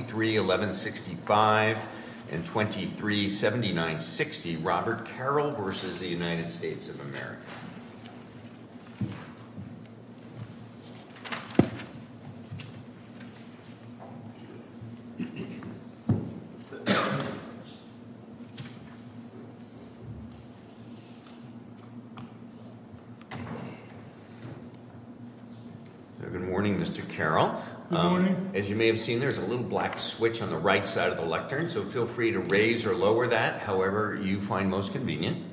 of America, 23-1165 and 23-7960, Robert Carroll v. United States of America. Good morning, Mr. Carroll. Good morning. As you may have seen, there's a little black switch on the right side of the lectern, so feel free to raise or lower that however you find most convenient.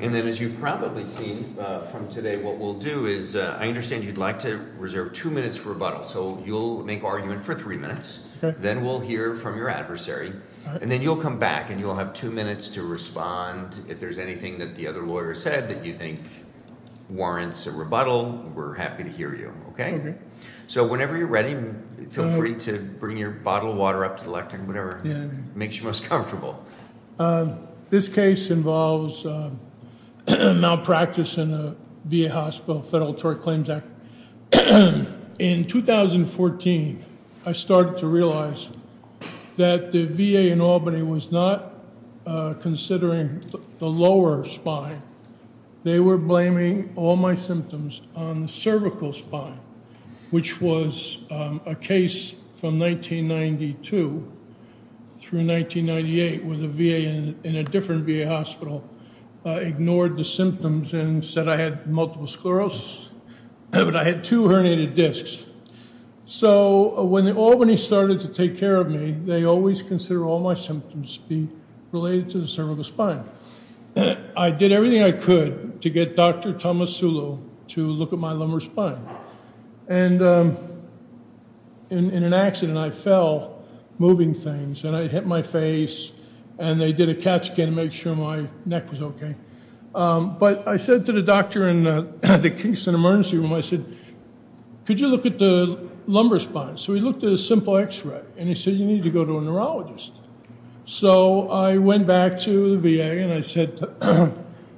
And then as you've probably seen from today, what we'll do is I understand you'd like to reserve two minutes for rebuttal, so you'll make argument for three minutes, then we'll hear from your adversary, and then you'll come back and you'll have two minutes to respond if there's anything that the other lawyer said that you think warrants a rebuttal, we're happy to hear you, okay? So whenever you're ready, feel free to bring your bottle of water up to the lectern, whatever makes you most comfortable. This case involves malpractice in the VA Hospital Federal Tort Claims Act. In 2014, I started to realize that the VA in Albany was not considering the lower spine, they were blaming all my symptoms on the cervical spine, which was a case from 1992 through 1998 where the VA in a different VA hospital ignored the symptoms and said I had multiple sclerosis, but I had two herniated discs. So when the Albany started to take care of me, they always consider all my symptoms to be related to the cervical spine. I did everything I could to get Dr. Thomas Sulu to look at my lumbar spine, and in an accident I fell moving things, and I hit my face, and they did a CAT scan to make sure my neck was okay. But I said to the doctor in the Kingston Emergency Room, I said, could you look at the lumbar spine? So he looked at a simple x-ray, and he said you need to go to a neurologist. So I went back to the VA, and I said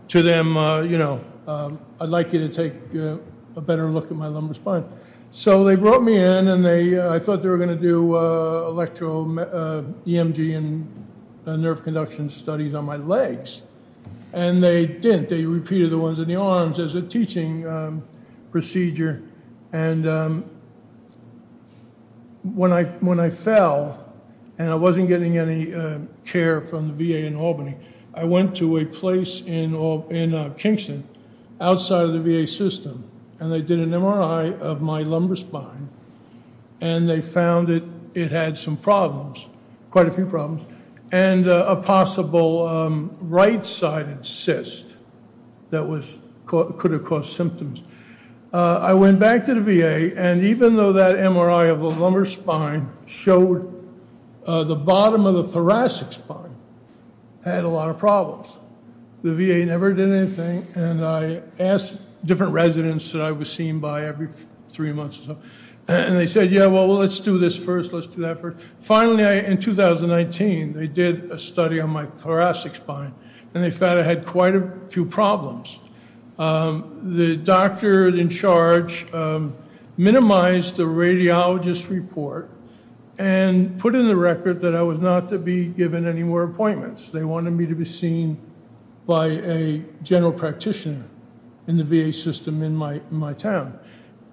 to them, you know, I'd like you to take a better look at my lumbar spine. So they brought me in, and I thought they were going to do electro EMG and nerve conduction studies on my legs, and they didn't. They repeated the ones in the arms as a teaching procedure, and when I fell, and I wasn't getting any care from the VA in Albany, I went to a place in Kingston outside of the VA system, and they did an MRI of my lumbar spine, and they found that it had some problems, quite a few problems, and a possible right-sided cyst that could have caused symptoms. I went back to the VA, and even though that MRI of the lumbar spine showed the bottom of the thoracic spine had a lot of problems, the VA never did anything, and I asked different residents that I was seen by every three months or so, and they said, yeah, well, let's do this first. Let's do that first. Finally, in 2019, they did a study on my thoracic spine, and they found I had quite a few problems. The doctor in charge minimized the radiologist report and put in the record that I was not to be given any more appointments. They wanted me to be seen by a general practitioner in the VA system in my town.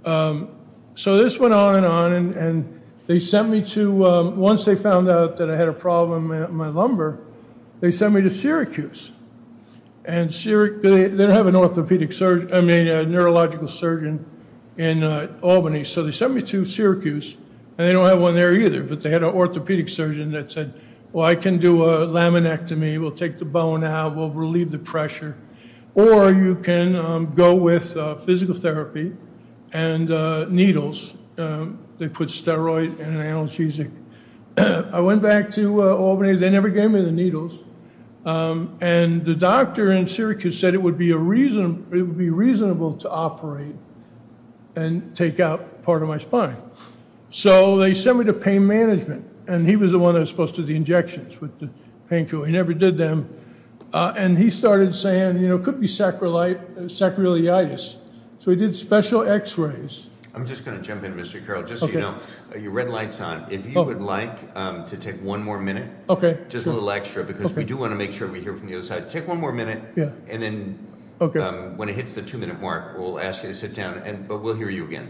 So this went on and on, and they sent me to, once they found out that I had a problem in my lumbar, they sent me to Syracuse, and they don't have an orthopedic, I mean, a neurological surgeon in Albany, so they sent me to Syracuse, and they don't have one there either, but they had an orthopedic surgeon that said, well, I can do a laminectomy, we'll take the bone out, we'll relieve the pressure, or you can go with physical therapy and needles. They put steroid and analgesic. I went back to Albany, they never gave me the needles, and the doctor in Syracuse said it would be reasonable to operate and take out part of my spine. So they sent me to pain management, and he was the one that was supposed to do the injections with the painkiller. He never did them, and he started saying, you know, it could be sacroiliitis. So he did special x-rays. I'm just going to jump in, Mr. Carroll, just so you know, your red light's on. If you would like to take one more minute, just a little extra, because we do want to make sure we hear from the other side. Take one more minute, and then when it hits the two-minute mark, we'll ask you to sit down, but we'll hear you again.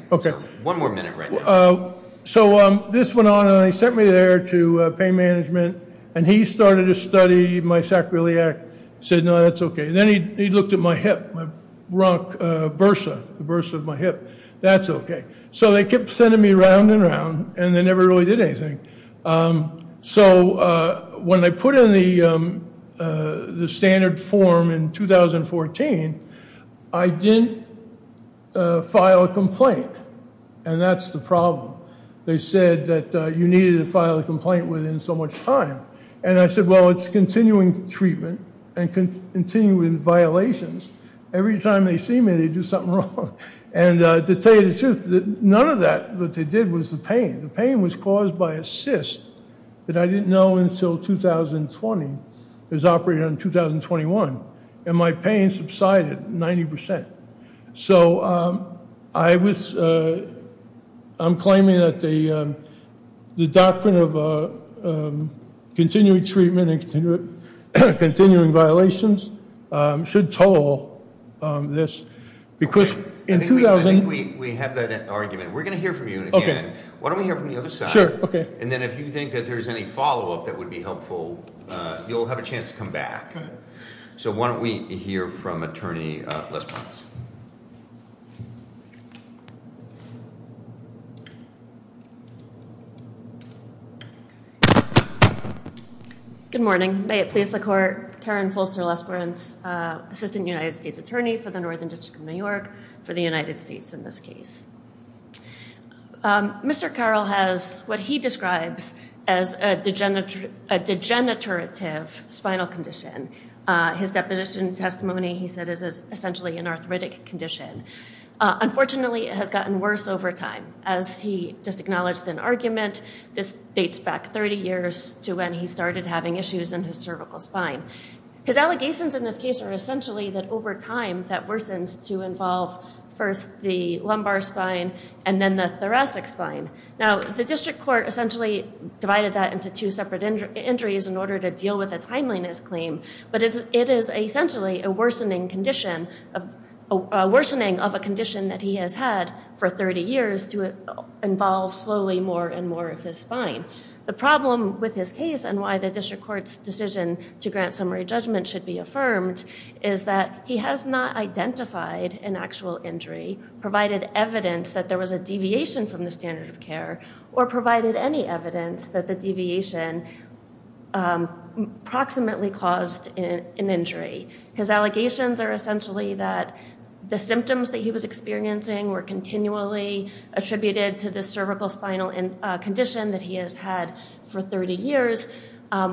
One more minute right now. So this went on, and they sent me there to pain management, and he started to study my sacroiliac, said, no, that's okay, and then he looked at my hip, my bursa, the bursa of my hip. That's okay. So they kept sending me round and round, and they never really did anything. So when I put in the standard form in 2014, I didn't file a complaint, and that's the problem. They said that you needed to file a complaint within so much time, and I said, well, it's continuing treatment and continuing violations. Every time they see me, they do something wrong, and to tell you the truth, none of that that they did was the pain. The pain was caused by a cyst that I didn't know until 2020 was operated on in 2021, and my pain subsided 90%. So I was, I'm claiming that the doctrine of continuing treatment and continuing violations should total this, because in 2000- I think we have that argument. We're going to hear from you again. Okay. Why don't we hear from the other side? Sure. Okay. And then if you think that there's any follow-up that would be helpful, you'll have a chance to come back. Okay. So why don't we hear from Attorney Lesperance? Good morning. May it please the Court. Karen Folster-Lesperance, Assistant United States Attorney for the Northern District of New York for the United States in this case. Mr. Carroll has what he describes as a degenerative spinal condition. His deposition testimony, he said, is essentially an arthritic condition. Unfortunately, it has gotten worse over time. As he just acknowledged in argument, this dates back 30 years to when he started having issues in his cervical spine. His allegations in this case are essentially that over time, that worsens to involve first the lumbar spine and then the thoracic spine. Now, the district court essentially divided that into two separate injuries in order to deal with the timeliness claim. But it is essentially a worsening condition, a worsening of a condition that he has had for 30 years to involve slowly more and more of his spine. The problem with his case and why the district court's decision to grant summary judgment should be affirmed is that he has not identified an actual injury, provided evidence that there was a deviation from the standard of care, or provided any evidence that the deviation approximately caused an injury. His allegations are essentially that the symptoms that he was experiencing were continually attributed to this cervical spinal condition that he has had for 30 years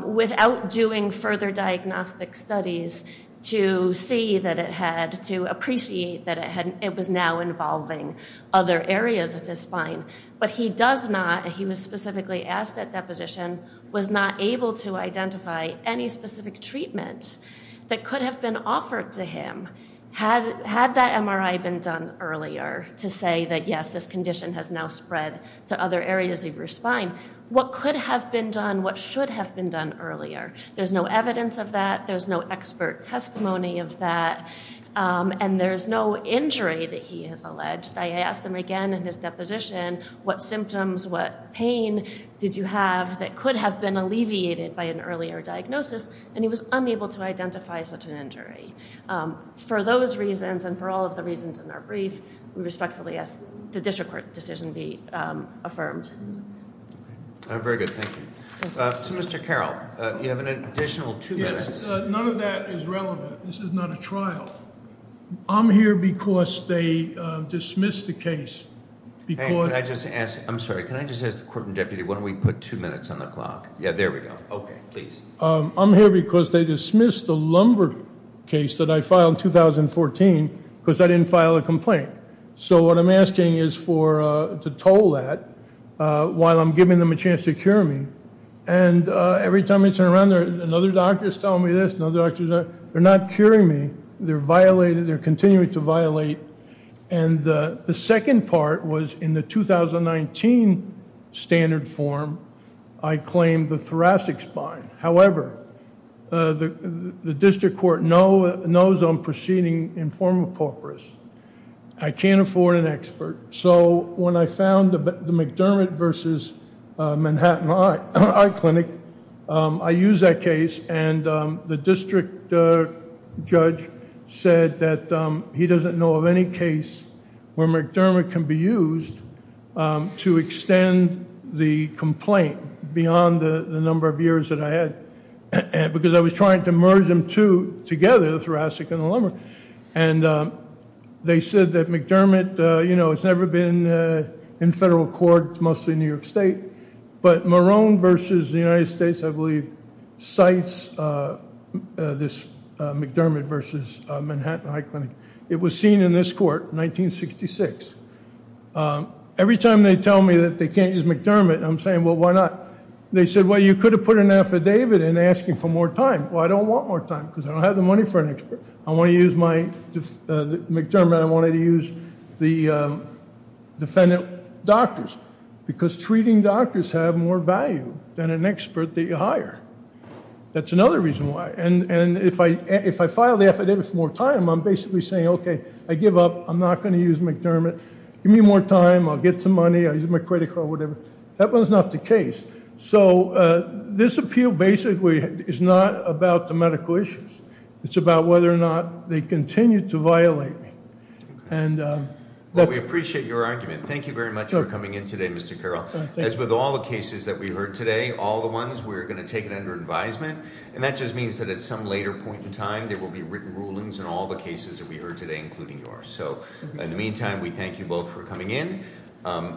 without doing further diagnostic studies to see that it had, to appreciate that it was now involving other areas of his spine. But he does not, he was specifically asked at deposition, was not able to identify any specific treatment that could have been offered to him had that MRI been done earlier to say that yes, this condition has now spread to other areas of your spine. What could have been done, what should have been done earlier? There's no evidence of that. There's no expert testimony of that. And there's no injury that he has alleged. I asked him again in his deposition what symptoms, what pain did you have that could have been alleviated by an earlier diagnosis, and he was unable to identify such an injury. For those reasons and for all of the reasons in our brief, we respectfully ask the district court decision be affirmed. Very good. Thank you. To Mr. Carroll, you have an additional two minutes. None of that is relevant. This is not a trial. I'm here because they dismissed the case. Hey, can I just ask, I'm sorry, can I just ask the court and deputy, why don't we put two minutes on the clock? Yeah, there we go. Okay, please. I'm here because they dismissed the lumbar case that I filed in 2014 because I didn't file a complaint. So what I'm asking is to toll that while I'm giving them a chance to cure me. And every time I turn around, another doctor is telling me this, another doctor is telling They're not curing me. They're violating, they're continuing to violate. And the second part was in the 2019 standard form, I claimed the thoracic spine. However, the district court knows I'm proceeding in form of pauperous. I can't afford an expert. So when I found the McDermott versus Manhattan Eye Clinic, I used that case. And the district judge said that he doesn't know of any case where McDermott can be used to extend the complaint beyond the number of years that I had. Because I was trying to merge them two together, the thoracic and the lumbar. And they said that McDermott, you know, it's never been in federal court, mostly in New York State. But Marone versus the United States, I believe, cites this McDermott versus Manhattan Eye Clinic. It was seen in this court in 1966. Every time they tell me that they can't use McDermott, I'm saying, well, why not? They said, well, you could have put an affidavit in asking for more time. Well, I don't want more time because I don't have the money for an expert. I want to use my McDermott. I wanted to use the defendant doctors because treating doctors have more value than an expert that you hire. That's another reason why. And if I file the affidavit for more time, I'm basically saying, okay, I give up. I'm not going to use McDermott. Give me more time. I'll get some money. I'll use my credit card, whatever. That one's not the case. So this appeal basically is not about the medical issues. It's about whether or not they continue to violate me. Well, we appreciate your argument. Thank you very much for coming in today, Mr. Carroll. As with all the cases that we heard today, all the ones we're going to take it under advisement. And that just means that at some later point in time, there will be written rulings in all the cases that we heard today, including yours. So in the meantime, we thank you both for coming in.